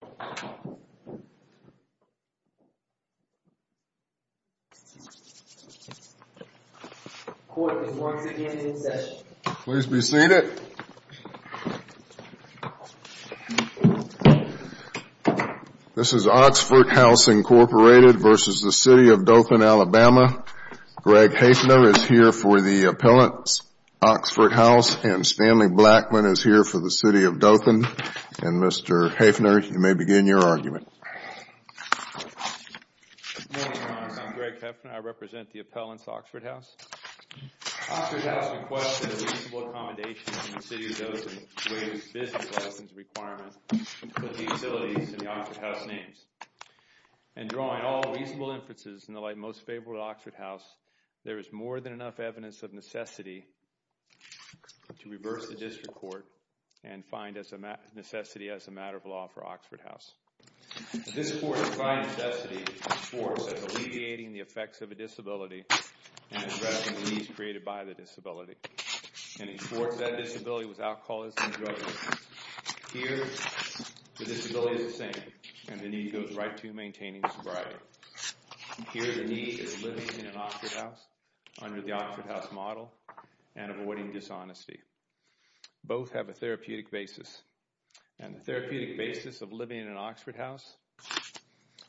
Greg Haefner is here for the appellant's Oxford House, and Stanley Blackman is here for the City of Dothan. Mr. Blackman and Mr. Haefner, you may begin your argument. Good morning, Your Honor. I'm Greg Haefner. I represent the appellant's Oxford House. Oxford House requested a reasonable accommodation in the City of Dothan to meet its business license requirement and put the utilities in the Oxford House names. In drawing all reasonable inferences in the light most favorable to Oxford House, there is more than enough evidence of necessity to reverse the district court and find as necessary as a matter of law for Oxford House. This court, by necessity, supports alleviating the effects of a disability and addressing the needs created by the disability, and it supports that disability with alcoholism and drug abuse. Here, the disability is the same, and the need goes right to maintaining sobriety. Here, the need is living in an Oxford House under the Oxford House model and avoiding dishonesty. Both have a therapeutic basis, and the therapeutic basis of living in an Oxford House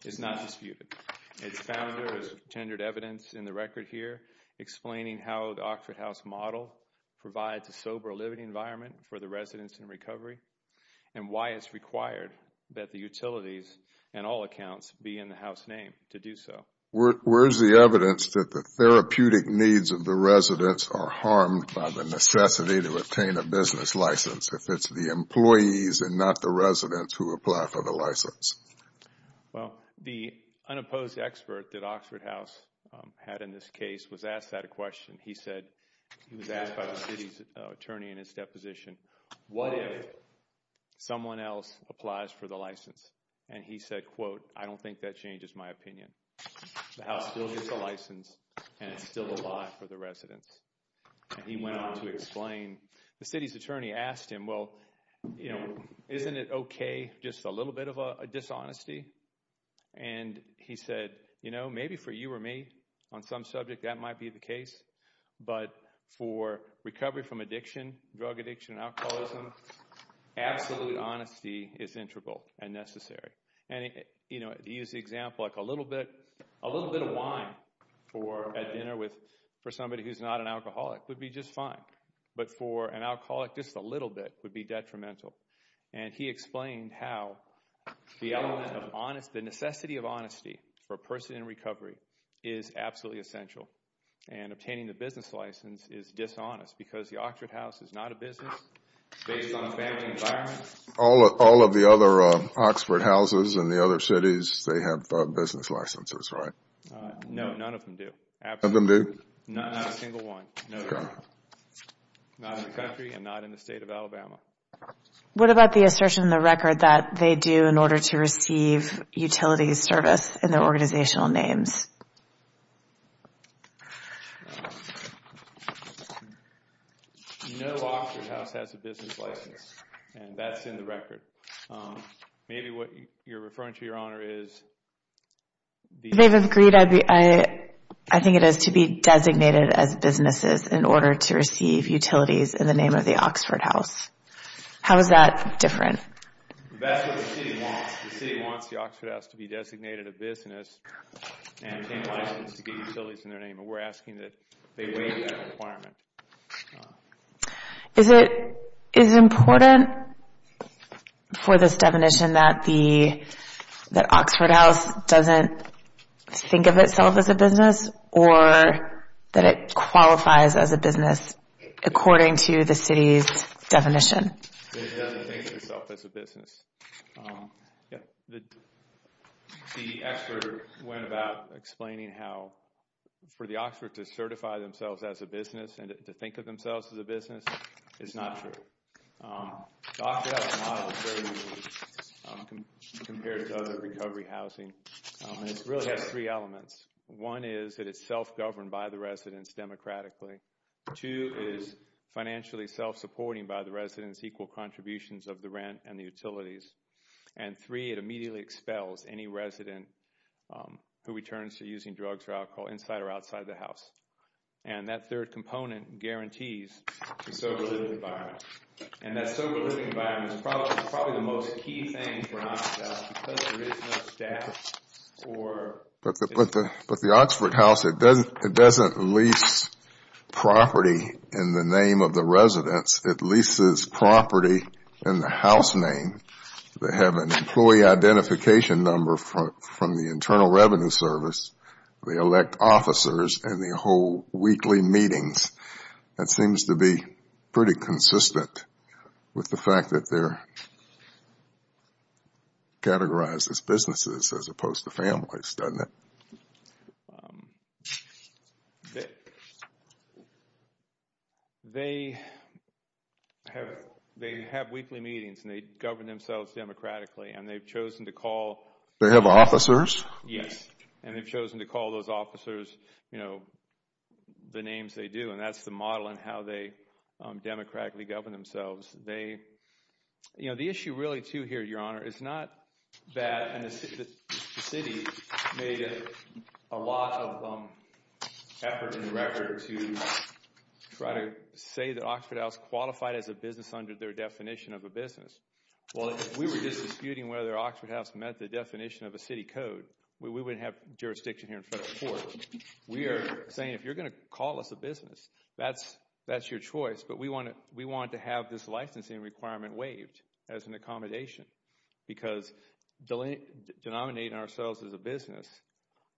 is not disputed. Its founder has tendered evidence in the record here explaining how the Oxford House model provides a sober living environment for the residents in recovery and why it's required that the utilities and all accounts be in the house name to do so. Where is the evidence that the therapeutic needs of the residents are harmed by the necessity to obtain a business license if it's the employees and not the residents who apply for the license? Well, the unopposed expert that Oxford House had in this case was asked that question. He said, he was asked by the city's attorney in his deposition, what if someone else applies for the license? And he said, quote, I don't think that changes my opinion. The house still gets a license, and it's still the law for the residents. And he went on to explain, the city's attorney asked him, well, you know, isn't it okay, just a little bit of a dishonesty? And he said, you know, maybe for you or me on some subject that might be the case, but for recovery from addiction, drug addiction, alcoholism, absolute honesty is integral and necessary. And, you know, he used the example like a little bit, a little bit of wine for at dinner with, for somebody who's not an alcoholic would be just fine. But for an alcoholic, just a little bit would be detrimental. And he explained how the element of honesty, the necessity of honesty for a person in recovery is absolutely essential. And obtaining the business license is dishonest because the Oxford House is not a business. It's based on a family environment. All of the other Oxford houses in the other cities, they have business licenses, right? No, none of them do. Absolutely. None of them do? Not a single one. Okay. Not in the country and not in the state of Alabama. What about the assertion in the record that they do in order to receive utility service in their organizational names? No Oxford House has a business license. And that's in the record. Maybe what you're referring to, Your Honor, is the... They've agreed, I think it is, to be designated as businesses in order to receive utilities in the name of the Oxford House. How is that different? That's what the city wants. The city wants the Oxford House to be designated a business and obtain a license to get utilities in their name. And we're asking that they waive that requirement. Is it important for this definition that Oxford House doesn't think of itself as a business or that it qualifies as a business according to the city's definition? It doesn't think of itself as a business. The expert went about explaining how for the Oxford to certify themselves as a business and to think of themselves as a business is not true. The Oxford House model is very unique compared to other recovery housing. It really has three elements. One is that it's self-governed by the residents democratically. Two is financially self-supporting by the residents, equal contributions of the rent and the utilities. And three, it immediately expels any resident who returns to using drugs or alcohol inside or outside the house. And that third component guarantees a sober living environment. And that sober living environment is probably the most key thing for Oxford House because there is no statute. But the Oxford House, it doesn't lease property in the name of the residents. It leases property in the house name. They have an employee identification number from the Internal Revenue Service. They elect officers and they hold weekly meetings. That seems to be pretty consistent with the fact that they're categorized as businesses as opposed to families, doesn't it? They have weekly meetings and they govern themselves democratically and they've chosen to call. They have officers? Yes. And they've chosen to call those officers the names they do and that's the model in how they democratically govern themselves. The issue really too here, Your Honor, is not that the city made a lot of effort in the record to try to say that Oxford House qualified as a business under their definition of a business. Well, if we were just disputing whether Oxford House met the definition of a city code, we wouldn't have jurisdiction here in front of the court. We are saying if you're going to call us a business, that's your choice. But we want to have this licensing requirement waived as an accommodation because denominating ourselves as a business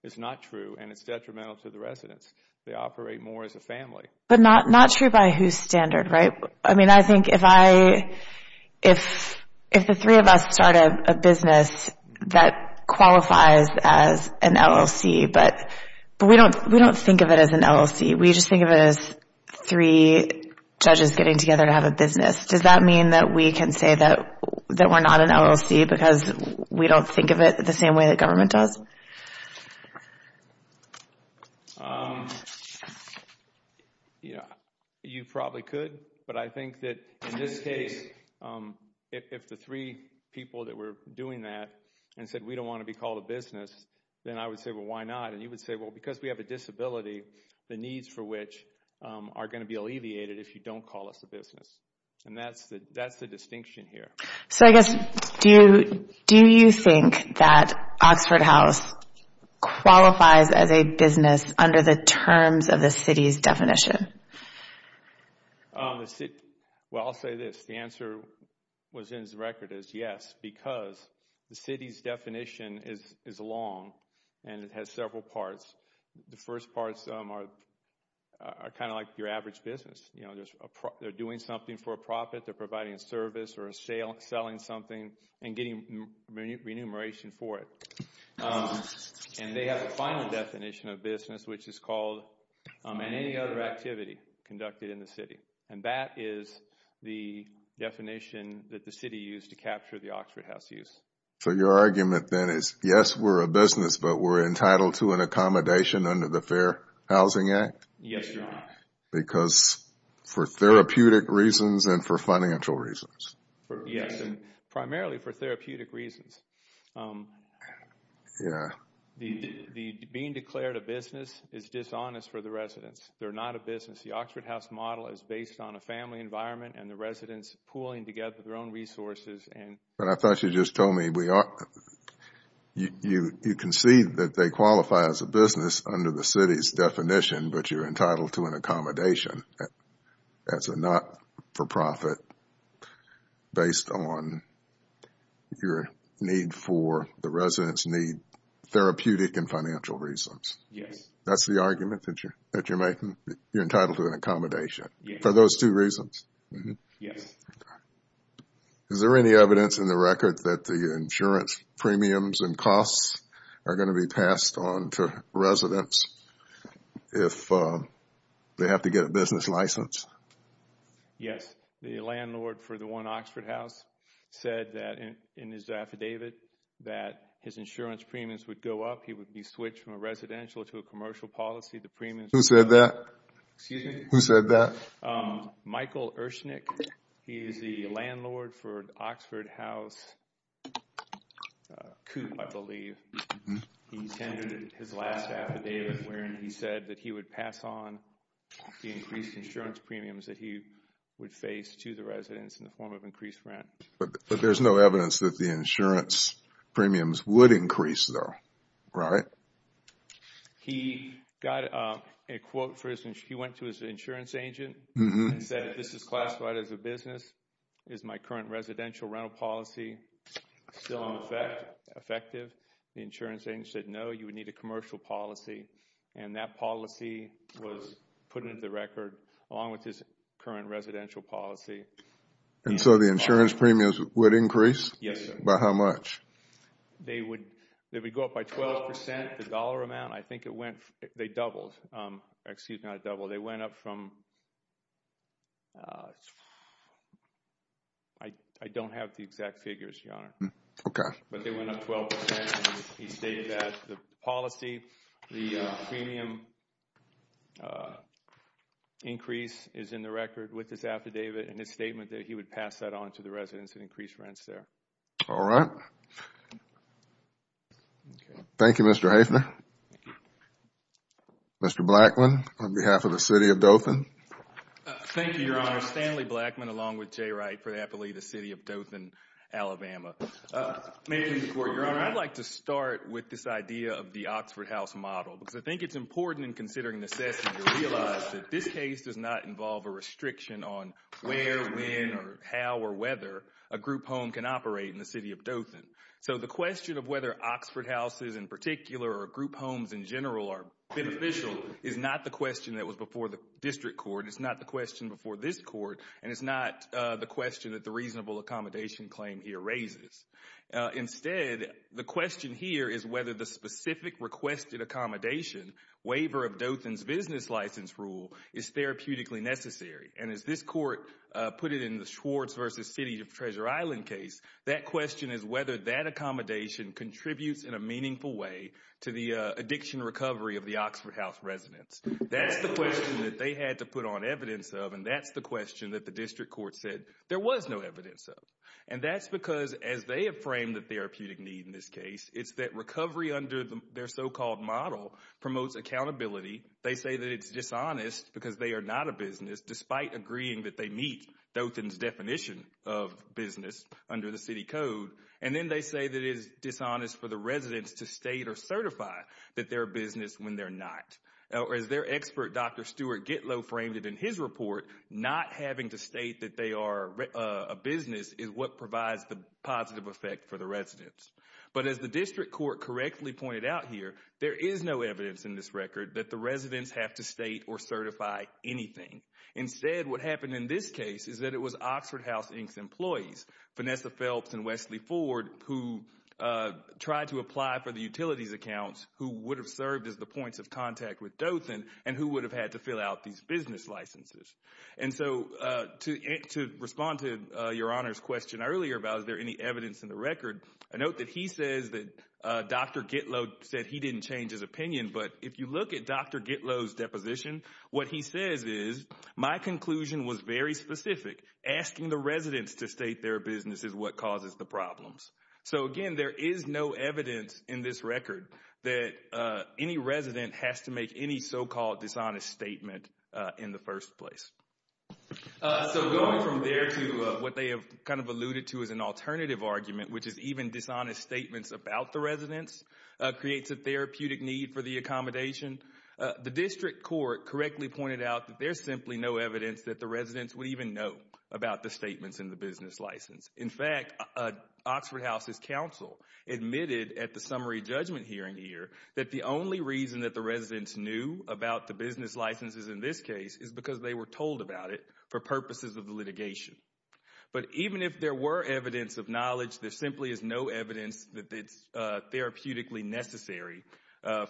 is not true and it's detrimental to the residents. They operate more as a family. But not true by whose standard, right? I mean, I think if the three of us start a business that qualifies as an LLC, but we don't think of it as an LLC. We just think of it as three judges getting together to have a business. Does that mean that we can say that we're not an LLC because we don't think of it the same way the government does? Yeah, you probably could. But I think that in this case, if the three people that were doing that and said we don't want to be called a business, then I would say, well, why not? And you would say, well, because we have a disability, the needs for which are going to be alleviated if you don't call us a business. And that's the distinction here. So I guess, do you think that Oxford House qualifies as a business under the terms of the city's definition? Well, I'll say this. The answer within the record is yes because the city's definition is long and it has several parts. The first parts are kind of like your average business. They're doing something for a profit. They're providing a service or selling something and getting remuneration for it. And they have a final definition of business, which is called any other activity conducted in the city. And that is the definition that the city used to capture the Oxford House use. So your argument then is, yes, we're a business, but we're entitled to an accommodation under the Fair Housing Act? Yes, Your Honor. Because for therapeutic reasons and for financial reasons? Yes, and primarily for therapeutic reasons. Being declared a business is dishonest for the residents. They're not a business. The Oxford House model is based on a family environment and the residents pooling together their own resources. But I thought you just told me you concede that they qualify as a business under the city's definition but you're entitled to an accommodation as a not-for-profit based on your need for the residents' need, therapeutic and financial reasons. Yes. That's the argument that you're making? You're entitled to an accommodation for those two reasons? Yes. Is there any evidence in the record that the insurance premiums and costs are going to be passed on to residents if they have to get a business license? Yes. The landlord for the one Oxford House said that in his affidavit that his insurance premiums would go up. He would be switched from a residential to a commercial policy. Who said that? Excuse me? Who said that? Michael Ershnick. He is the landlord for Oxford House Coop, I believe. He tendered his last affidavit wherein he said that he would pass on the increased insurance premiums that he would face to the residents in the form of increased rent. But there's no evidence that the insurance premiums would increase though, right? He got a quote for his insurance. He went to his insurance agent and said, this is classified as a business. Is my current residential rental policy still effective? The insurance agent said, no, you would need a commercial policy. And that policy was put into the record along with his current residential policy. And so the insurance premiums would increase? Yes, sir. By how much? They would go up by 12%. The dollar amount, I think it went, they doubled. Excuse me, not doubled. They went up from, I don't have the exact figures, Your Honor. Okay. But they went up 12% and he stated that the policy, the premium increase is in the record with this affidavit and his statement that he would pass that on to the residents and increase rents there. All right. Thank you, Mr. Haefner. Mr. Blackman, on behalf of the City of Dothan. Thank you, Your Honor. Stanley Blackman along with Jay Wright for the City of Dothan, Alabama. I'd like to start with this idea of the Oxford House model. Because I think it's important in considering the assessment to realize that this case does not involve a restriction on where, when, or how, or whether a group home can operate in the City of Dothan. So the question of whether Oxford houses in particular or group homes in general are beneficial is not the question that was before the district court, it's not the question before this court, and it's not the question that the reasonable accommodation claim here raises. Instead, the question here is whether the specific requested accommodation, waiver of Dothan's business license rule, is therapeutically necessary. And as this court put it in the Schwartz v. City of Treasure Island case, that question is whether that accommodation contributes in a meaningful way to the addiction recovery of the Oxford House residents. That's the question that they had to put on evidence of, and that's the question that the district court said there was no evidence of. And that's because as they have framed the therapeutic need in this case, it's that recovery under their so-called model promotes accountability. They say that it's dishonest because they are not a business, despite agreeing that they meet Dothan's definition of business under the city code. And then they say that it is dishonest for the residents to state or certify that they're a business when they're not. As their expert, Dr. Stuart Gitlow, framed it in his report, not having to state that they are a business is what provides the positive effect for the residents. But as the district court correctly pointed out here, there is no evidence in this record that the residents have to state or certify anything. Instead, what happened in this case is that it was Oxford House Inc.'s employees, Vanessa Phelps and Wesley Ford, who tried to apply for the utilities accounts, who would have served as the points of contact with Dothan, and who would have had to fill out these business licenses. And so to respond to Your Honor's question earlier about is there any evidence in the record, a note that he says that Dr. Gitlow said he didn't change his opinion, but if you look at Dr. Gitlow's deposition, what he says is, my conclusion was very specific. Asking the residents to state their business is what causes the problems. So, again, there is no evidence in this record that any resident has to make any so-called dishonest statement in the first place. So going from there to what they have kind of alluded to as an alternative argument, which is even dishonest statements about the residents creates a therapeutic need for the accommodation. The district court correctly pointed out that there's simply no evidence that the residents would even know about the statements in the business license. In fact, Oxford House's counsel admitted at the summary judgment hearing here that the only reason that the residents knew about the business licenses in this case is because they were told about it for purposes of litigation. But even if there were evidence of knowledge, there simply is no evidence that it's therapeutically necessary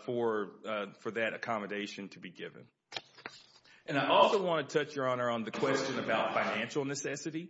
for that accommodation to be given. And I also want to touch, Your Honor, on the question about financial necessity.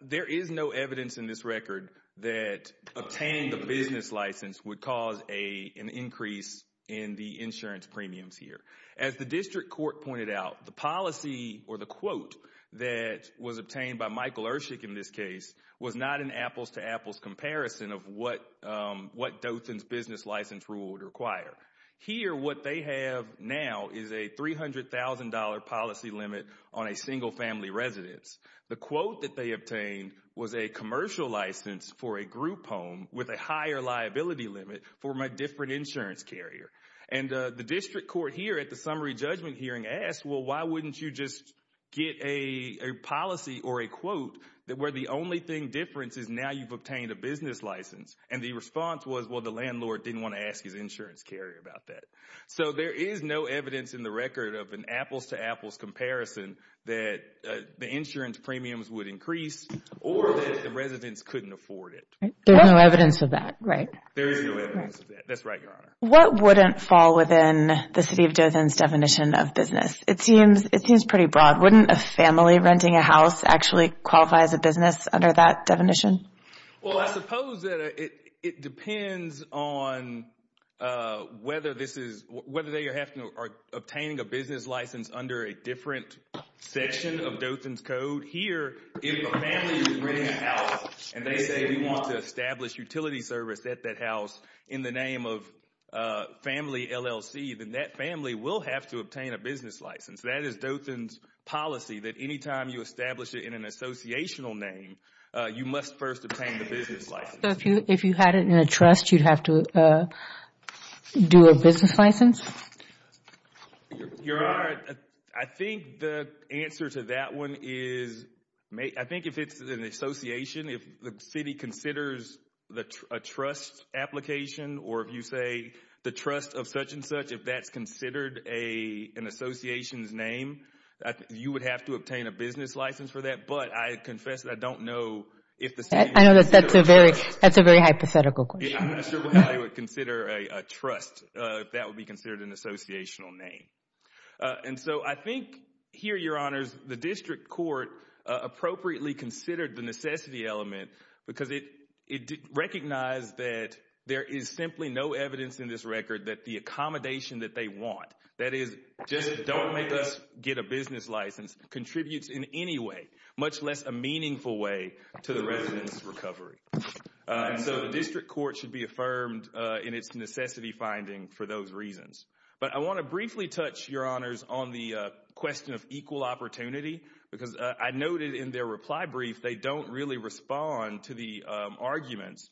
There is no evidence in this record that obtaining the business license would cause an increase in the insurance premiums here. As the district court pointed out, the policy or the quote that was obtained by Michael Ershick in this case was not an apples-to-apples comparison of what Dothan's business license rule would require. Here what they have now is a $300,000 policy limit on a single-family residence. The quote that they obtained was a commercial license for a group home with a higher liability limit for my different insurance carrier. And the district court here at the summary judgment hearing asked, well, why wouldn't you just get a policy or a quote where the only thing different is now you've obtained a business license? And the response was, well, the landlord didn't want to ask his insurance carrier about that. So there is no evidence in the record of an apples-to-apples comparison that the insurance premiums would increase or that the residents couldn't afford it. There's no evidence of that, right? There is no evidence of that. That's right, Your Honor. What wouldn't fall within the city of Dothan's definition of business? It seems pretty broad. Wouldn't a family renting a house actually qualify as a business under that definition? Well, I suppose that it depends on whether they are obtaining a business license under a different section of Dothan's Code. Here if a family is renting a house and they say we want to establish utility service at that house in the name of family LLC, then that family will have to obtain a business license. That is Dothan's policy that any time you establish it in an associational name, you must first obtain the business license. So if you had it in a trust, you'd have to do a business license? Your Honor, I think the answer to that one is I think if it's an association, if the city considers a trust application or if you say the trust of such and such, if that's considered an association's name, you would have to obtain a business license for that. But I confess that I don't know if the city would consider a trust. I know that's a very hypothetical question. I'm not sure why they would consider a trust if that would be considered an associational name. And so I think here, Your Honors, the district court appropriately considered the necessity element because it recognized that there is simply no evidence in this record that the accommodation that they want, that is, just don't make us get a business license contributes in any way, much less a meaningful way to the resident's recovery. And so the district court should be affirmed in its necessity finding for those reasons. But I want to briefly touch, Your Honors, on the question of equal opportunity because I noted in their reply brief they don't really respond to the arguments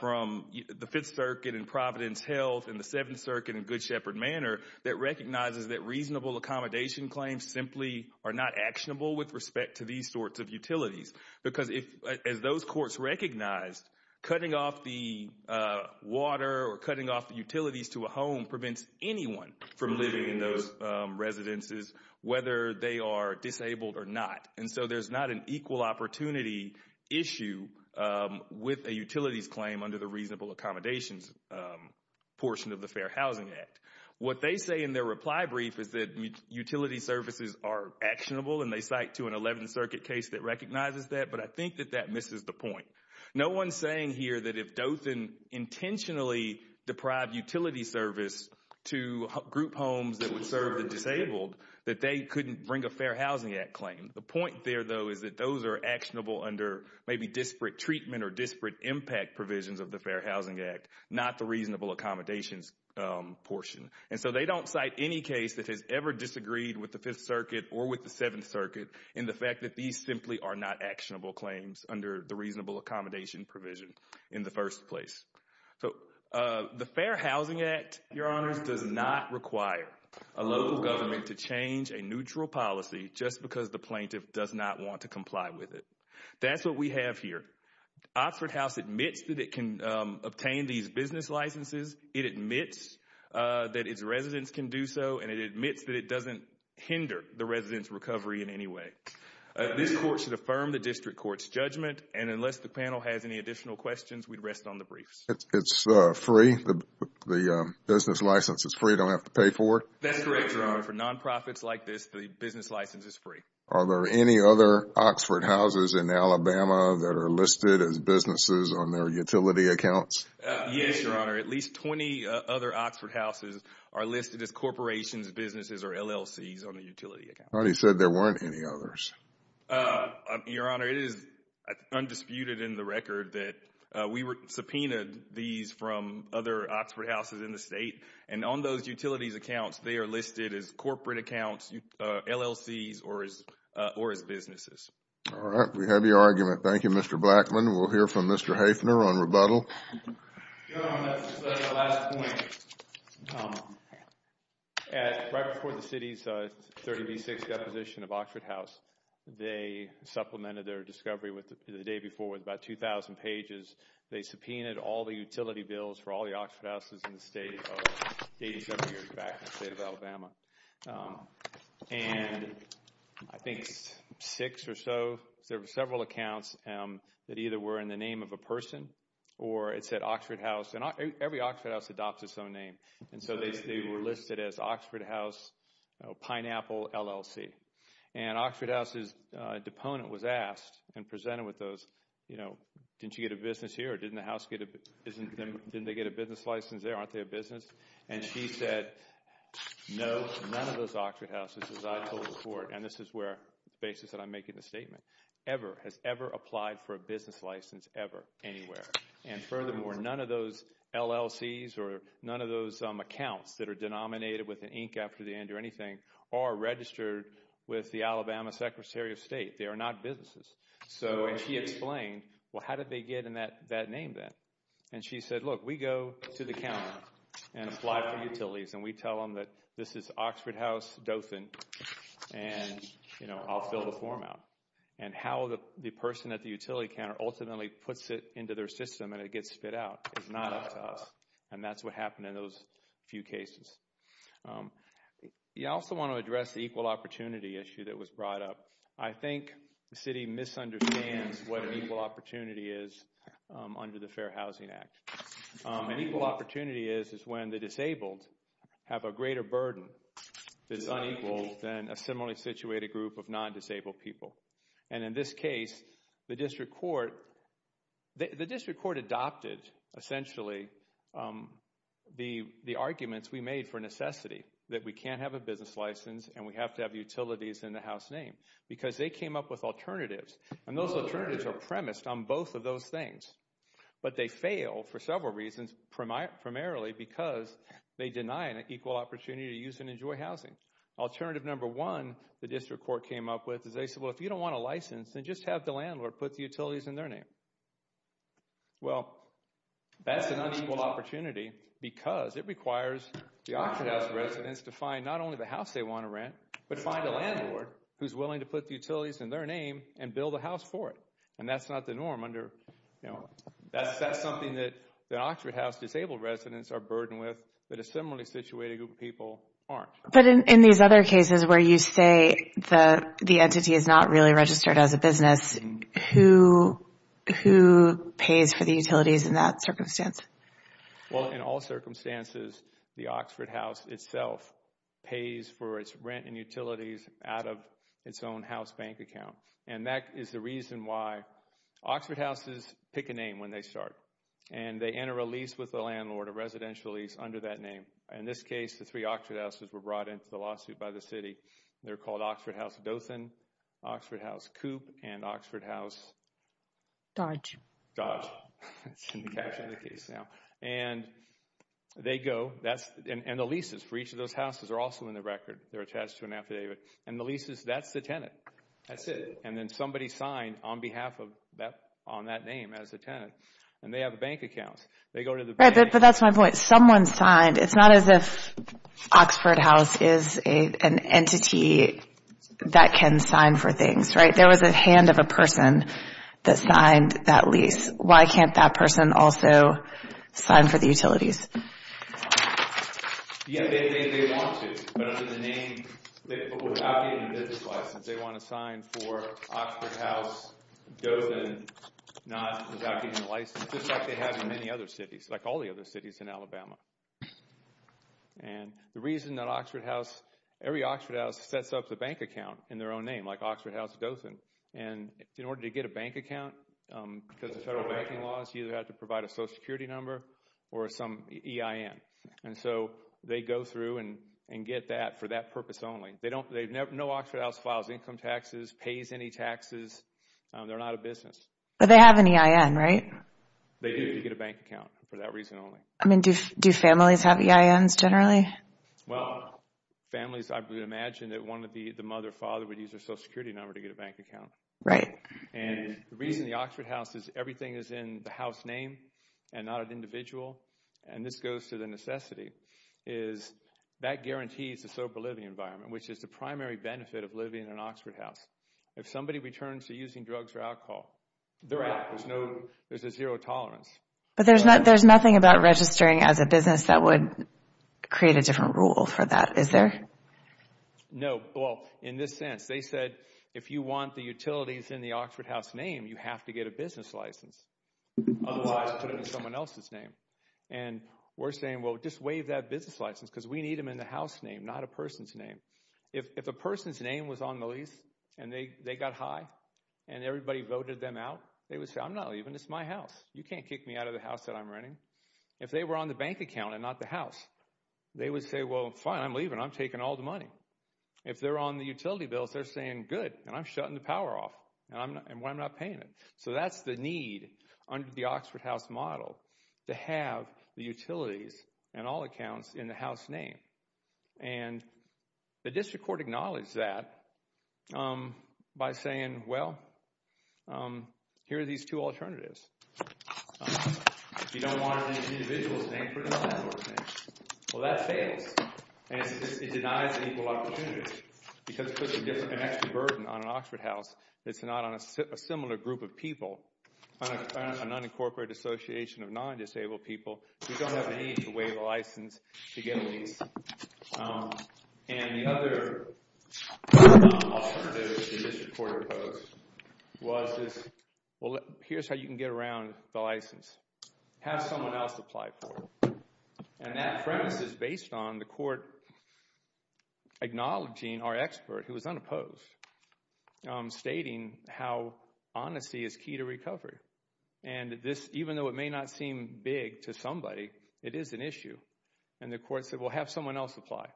from the Fifth Circuit and Providence Health and the Seventh Circuit and Good Shepherd Manor that recognizes that reasonable accommodation claims simply are not actionable with respect to these sorts of utilities. Because as those courts recognized, cutting off the water or cutting off the utilities to a home prevents anyone from living in those residences, whether they are disabled or not. And so there's not an equal opportunity issue with a utilities claim under the reasonable accommodations portion of the Fair Housing Act. What they say in their reply brief is that utility services are actionable, and they cite to an Eleventh Circuit case that recognizes that, but I think that that misses the point. No one's saying here that if Dothan intentionally deprived utility service to group homes that would serve the disabled that they couldn't bring a Fair Housing Act claim. The point there, though, is that those are actionable under maybe disparate treatment or disparate impact provisions of the Fair Housing Act, not the reasonable accommodations portion. And so they don't cite any case that has ever disagreed with the Fifth Circuit or with the Seventh Circuit in the fact that these simply are not actionable claims under the reasonable accommodation provision in the first place. So the Fair Housing Act, Your Honors, does not require a local government to change a neutral policy just because the plaintiff does not want to comply with it. That's what we have here. Oxford House admits that it can obtain these business licenses. It admits that its residents can do so, and it admits that it doesn't hinder the residents' recovery in any way. This court should affirm the district court's judgment, and unless the panel has any additional questions, we'd rest on the briefs. It's free? The business license is free? You don't have to pay for it? That's correct, Your Honor. For nonprofits like this, the business license is free. Are there any other Oxford Houses in Alabama that are listed as businesses on their utility accounts? Yes, Your Honor. At least 20 other Oxford Houses are listed as corporations, businesses, or LLCs on the utility account. I thought he said there weren't any others. Your Honor, it is undisputed in the record that we subpoenaed these from other Oxford Houses in the state, and on those utilities accounts, they are listed as corporate accounts, LLCs, or as businesses. All right, we have your argument. Thank you, Mr. Blackmon. We'll hear from Mr. Haefner on rebuttal. Your Honor, just as a last point, right before the city's 30B6 deposition of Oxford House, they supplemented their discovery the day before with about 2,000 pages. They subpoenaed all the utility bills for all the Oxford Houses in the state of 87 years back in the state of Alabama. And I think six or so, there were several accounts that either were in the name of a person or it said Oxford House. And every Oxford House adopts its own name. And so they were listed as Oxford House Pineapple LLC. And Oxford House's deponent was asked and presented with those, you know, didn't you get a business here or didn't the house get a business license there, aren't they a business? And she said, no, none of those Oxford Houses, as I told the court, and this is where the basis that I'm making the statement, ever has ever applied for a business license ever anywhere. And furthermore, none of those LLCs or none of those accounts that are denominated with an ink after the end or anything are registered with the Alabama Secretary of State. They are not businesses. So she explained, well, how did they get in that name then? And she said, look, we go to the counter and apply for utilities. And we tell them that this is Oxford House Dothan and, you know, I'll fill the form out. And how the person at the utility counter ultimately puts it into their system and it gets spit out is not up to us. And that's what happened in those few cases. You also want to address the equal opportunity issue that was brought up. I think the city misunderstands what an equal opportunity is under the Fair Housing Act. An equal opportunity is when the disabled have a greater burden that is unequal than a similarly situated group of non-disabled people. And in this case, the district court adopted, essentially, the arguments we made for necessity, that we can't have a business license and we have to have utilities in the house name, because they came up with alternatives. And those alternatives are premised on both of those things. But they fail for several reasons, primarily because they deny an equal opportunity to use and enjoy housing. Alternative number one the district court came up with is they said, well, if you don't want a license, then just have the landlord put the utilities in their name. Well, that's an unequal opportunity because it requires the Oxford House residents to find not only the house they want to rent, but find a landlord who's willing to put the utilities in their name and build a house for it. And that's not the norm under, you know, that's something that the Oxford House disabled residents are burdened with that a similarly situated group of people aren't. But in these other cases where you say the entity is not really registered as a business, who pays for the utilities in that circumstance? Well, in all circumstances, the Oxford House itself pays for its rent and utilities out of its own house bank account. And that is the reason why Oxford Houses pick a name when they start. And they enter a lease with the landlord, a residential lease under that name. In this case, the three Oxford Houses were brought into the lawsuit by the city. They're called Oxford House Dothan, Oxford House Coop, and Oxford House Dodge. It's in the caption of the case now. And they go. And the leases for each of those houses are also in the record. They're attached to an affidavit. And the leases, that's the tenant. That's it. And then somebody signed on behalf of that, on that name as a tenant. And they have bank accounts. They go to the bank. Right, but that's my point. If someone signed, it's not as if Oxford House is an entity that can sign for things, right? There was a hand of a person that signed that lease. Why can't that person also sign for the utilities? Yeah, they want to. But under the name, without getting a business license, they want to sign for Oxford House Dothan, without getting a license, just like they have in many other cities, like all the other cities in Alabama. And the reason that Oxford House, every Oxford House sets up the bank account in their own name, like Oxford House Dothan. And in order to get a bank account, because of federal banking laws, you either have to provide a social security number or some EIN. And so they go through and get that for that purpose only. No Oxford House files income taxes, pays any taxes. They're not a business. But they have an EIN, right? They do. You get a bank account for that reason only. I mean, do families have EINs generally? Well, families, I would imagine that the mother or father would use their social security number to get a bank account. Right. And the reason the Oxford House is everything is in the house name and not an individual, and this goes to the necessity, is that guarantees a sober living environment, which is the primary benefit of living in an Oxford House. If somebody returns to using drugs or alcohol, they're out. There's a zero tolerance. But there's nothing about registering as a business that would create a different rule for that, is there? No. Well, in this sense, they said if you want the utilities in the Oxford House name, you have to get a business license. Otherwise, put it in someone else's name. And we're saying, well, just waive that business license because we need them in the house name, not a person's name. If a person's name was on the lease and they got high and everybody voted them out, they would say, I'm not leaving. It's my house. You can't kick me out of the house that I'm renting. If they were on the bank account and not the house, they would say, well, fine, I'm leaving. I'm taking all the money. If they're on the utility bills, they're saying, good, and I'm shutting the power off and I'm not paying it. So that's the need under the Oxford House model to have the utilities and all accounts in the house name. And the district court acknowledged that by saying, well, here are these two alternatives. If you don't want it in an individual's name, put it in a landlord's name. Well, that fails. And it denies equal opportunities because it puts an extra burden on an Oxford House that's not on a similar group of people, an unincorporated association of non-disabled people who don't have the need to waive a license to get a lease. And the other alternative that the district court opposed was this, well, here's how you can get around the license. Have someone else apply for it. And that premise is based on the court acknowledging our expert, who was unopposed, stating how honesty is key to recovery. And this, even though it may not seem big to somebody, it is an issue. And the court said, well, have someone else apply.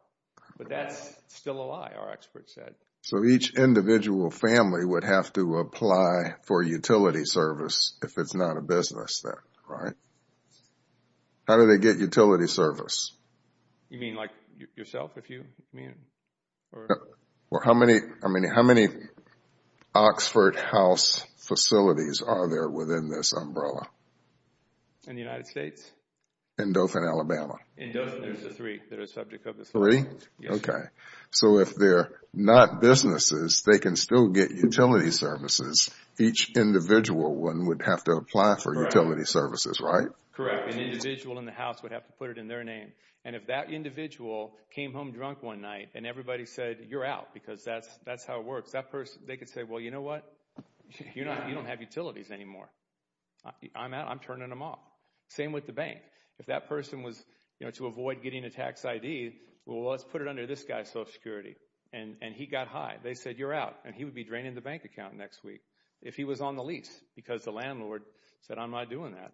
But that's still a lie, our expert said. So each individual family would have to apply for utility service if it's not a business then, right? How do they get utility service? You mean like yourself, if you mean? Well, how many Oxford House facilities are there within this umbrella? In the United States? In Dothan, Alabama. In Dothan, there's three that are subject of the three. Three? Okay. So if they're not businesses, they can still get utility services. Each individual one would have to apply for utility services, right? Correct. An individual in the house would have to put it in their name. And if that individual came home drunk one night and everybody said, you're out, because that's how it works. They could say, well, you know what? You don't have utilities anymore. I'm out. I'm turning them off. Same with the bank. If that person was to avoid getting a tax ID, well, let's put it under this guy's Social Security. And he got high. They said, you're out. And he would be draining the bank account next week if he was on the lease because the landlord said, I'm not doing that.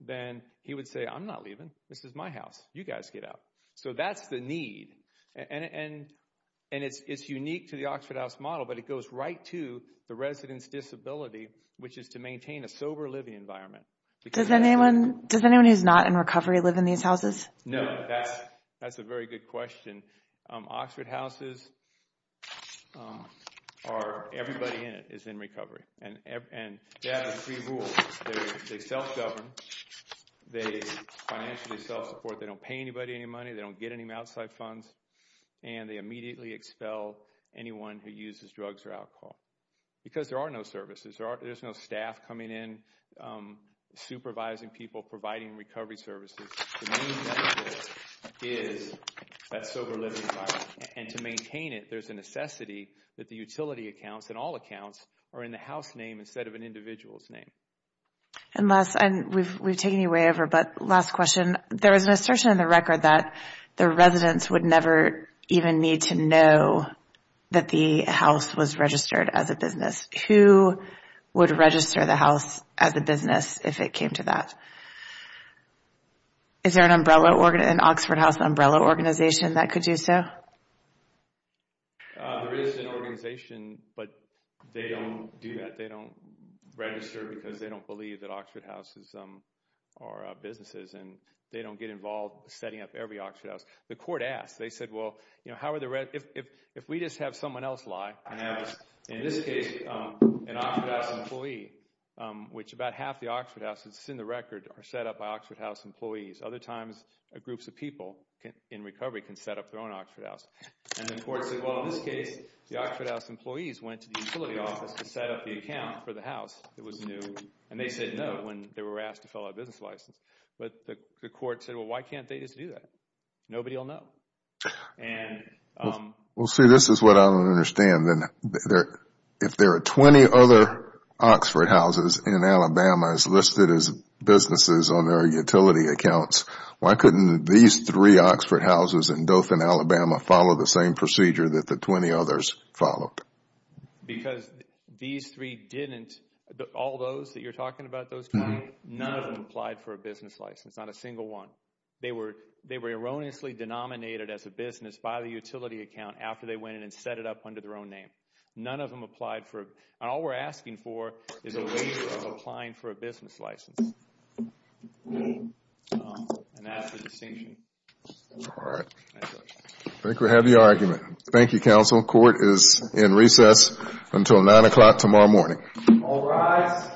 Then he would say, I'm not leaving. This is my house. You guys get out. So that's the need. And it's unique to the Oxford House model, but it goes right to the resident's disability, which is to maintain a sober living environment. Does anyone who's not in recovery live in these houses? No. That's a very good question. Oxford Houses are, everybody in it is in recovery. And they have a free rule. They self-govern. They financially self-support. They don't pay anybody any money. They don't get any outside funds. And they immediately expel anyone who uses drugs or alcohol because there are no services. There's no staff coming in, supervising people, providing recovery services. The main benefit is that sober living environment. And to maintain it, there's a necessity that the utility accounts and all accounts are in the house name instead of an individual's name. And we've taken you way over, but last question. There was an assertion in the record that the residents would never even need to know that the house was registered as a business. Who would register the house as a business if it came to that? Is there an Oxford House umbrella organization that could do so? There is an organization, but they don't do that. They don't register because they don't believe that Oxford Houses are businesses. And they don't get involved setting up every Oxford House. The court asked. They said, well, if we just have someone else lie, in this case, an Oxford House employee, which about half the Oxford Houses, it's in the record, are set up by Oxford House employees. Other times, groups of people in recovery can set up their own Oxford House. And the court said, well, in this case, the Oxford House employees went to the utility office to set up the account for the house. It was new. And they said no when they were asked to fill out a business license. But the court said, well, why can't they just do that? Nobody will know. Well, see, this is what I don't understand. If there are 20 other Oxford Houses in Alabama listed as businesses on their utility accounts, why couldn't these three Oxford Houses in Dothan, Alabama, follow the same procedure that the 20 others followed? Because these three didn't. All those that you're talking about, those 20, none of them applied for a business license, not a single one. They were erroneously denominated as a business by the utility account after they went in and set it up under their own name. None of them applied for it. And all we're asking for is a waiver of applying for a business license. And that's the distinction. All right. I think we have the argument. Thank you, counsel. Court is in recess until 9 o'clock tomorrow morning. All rise.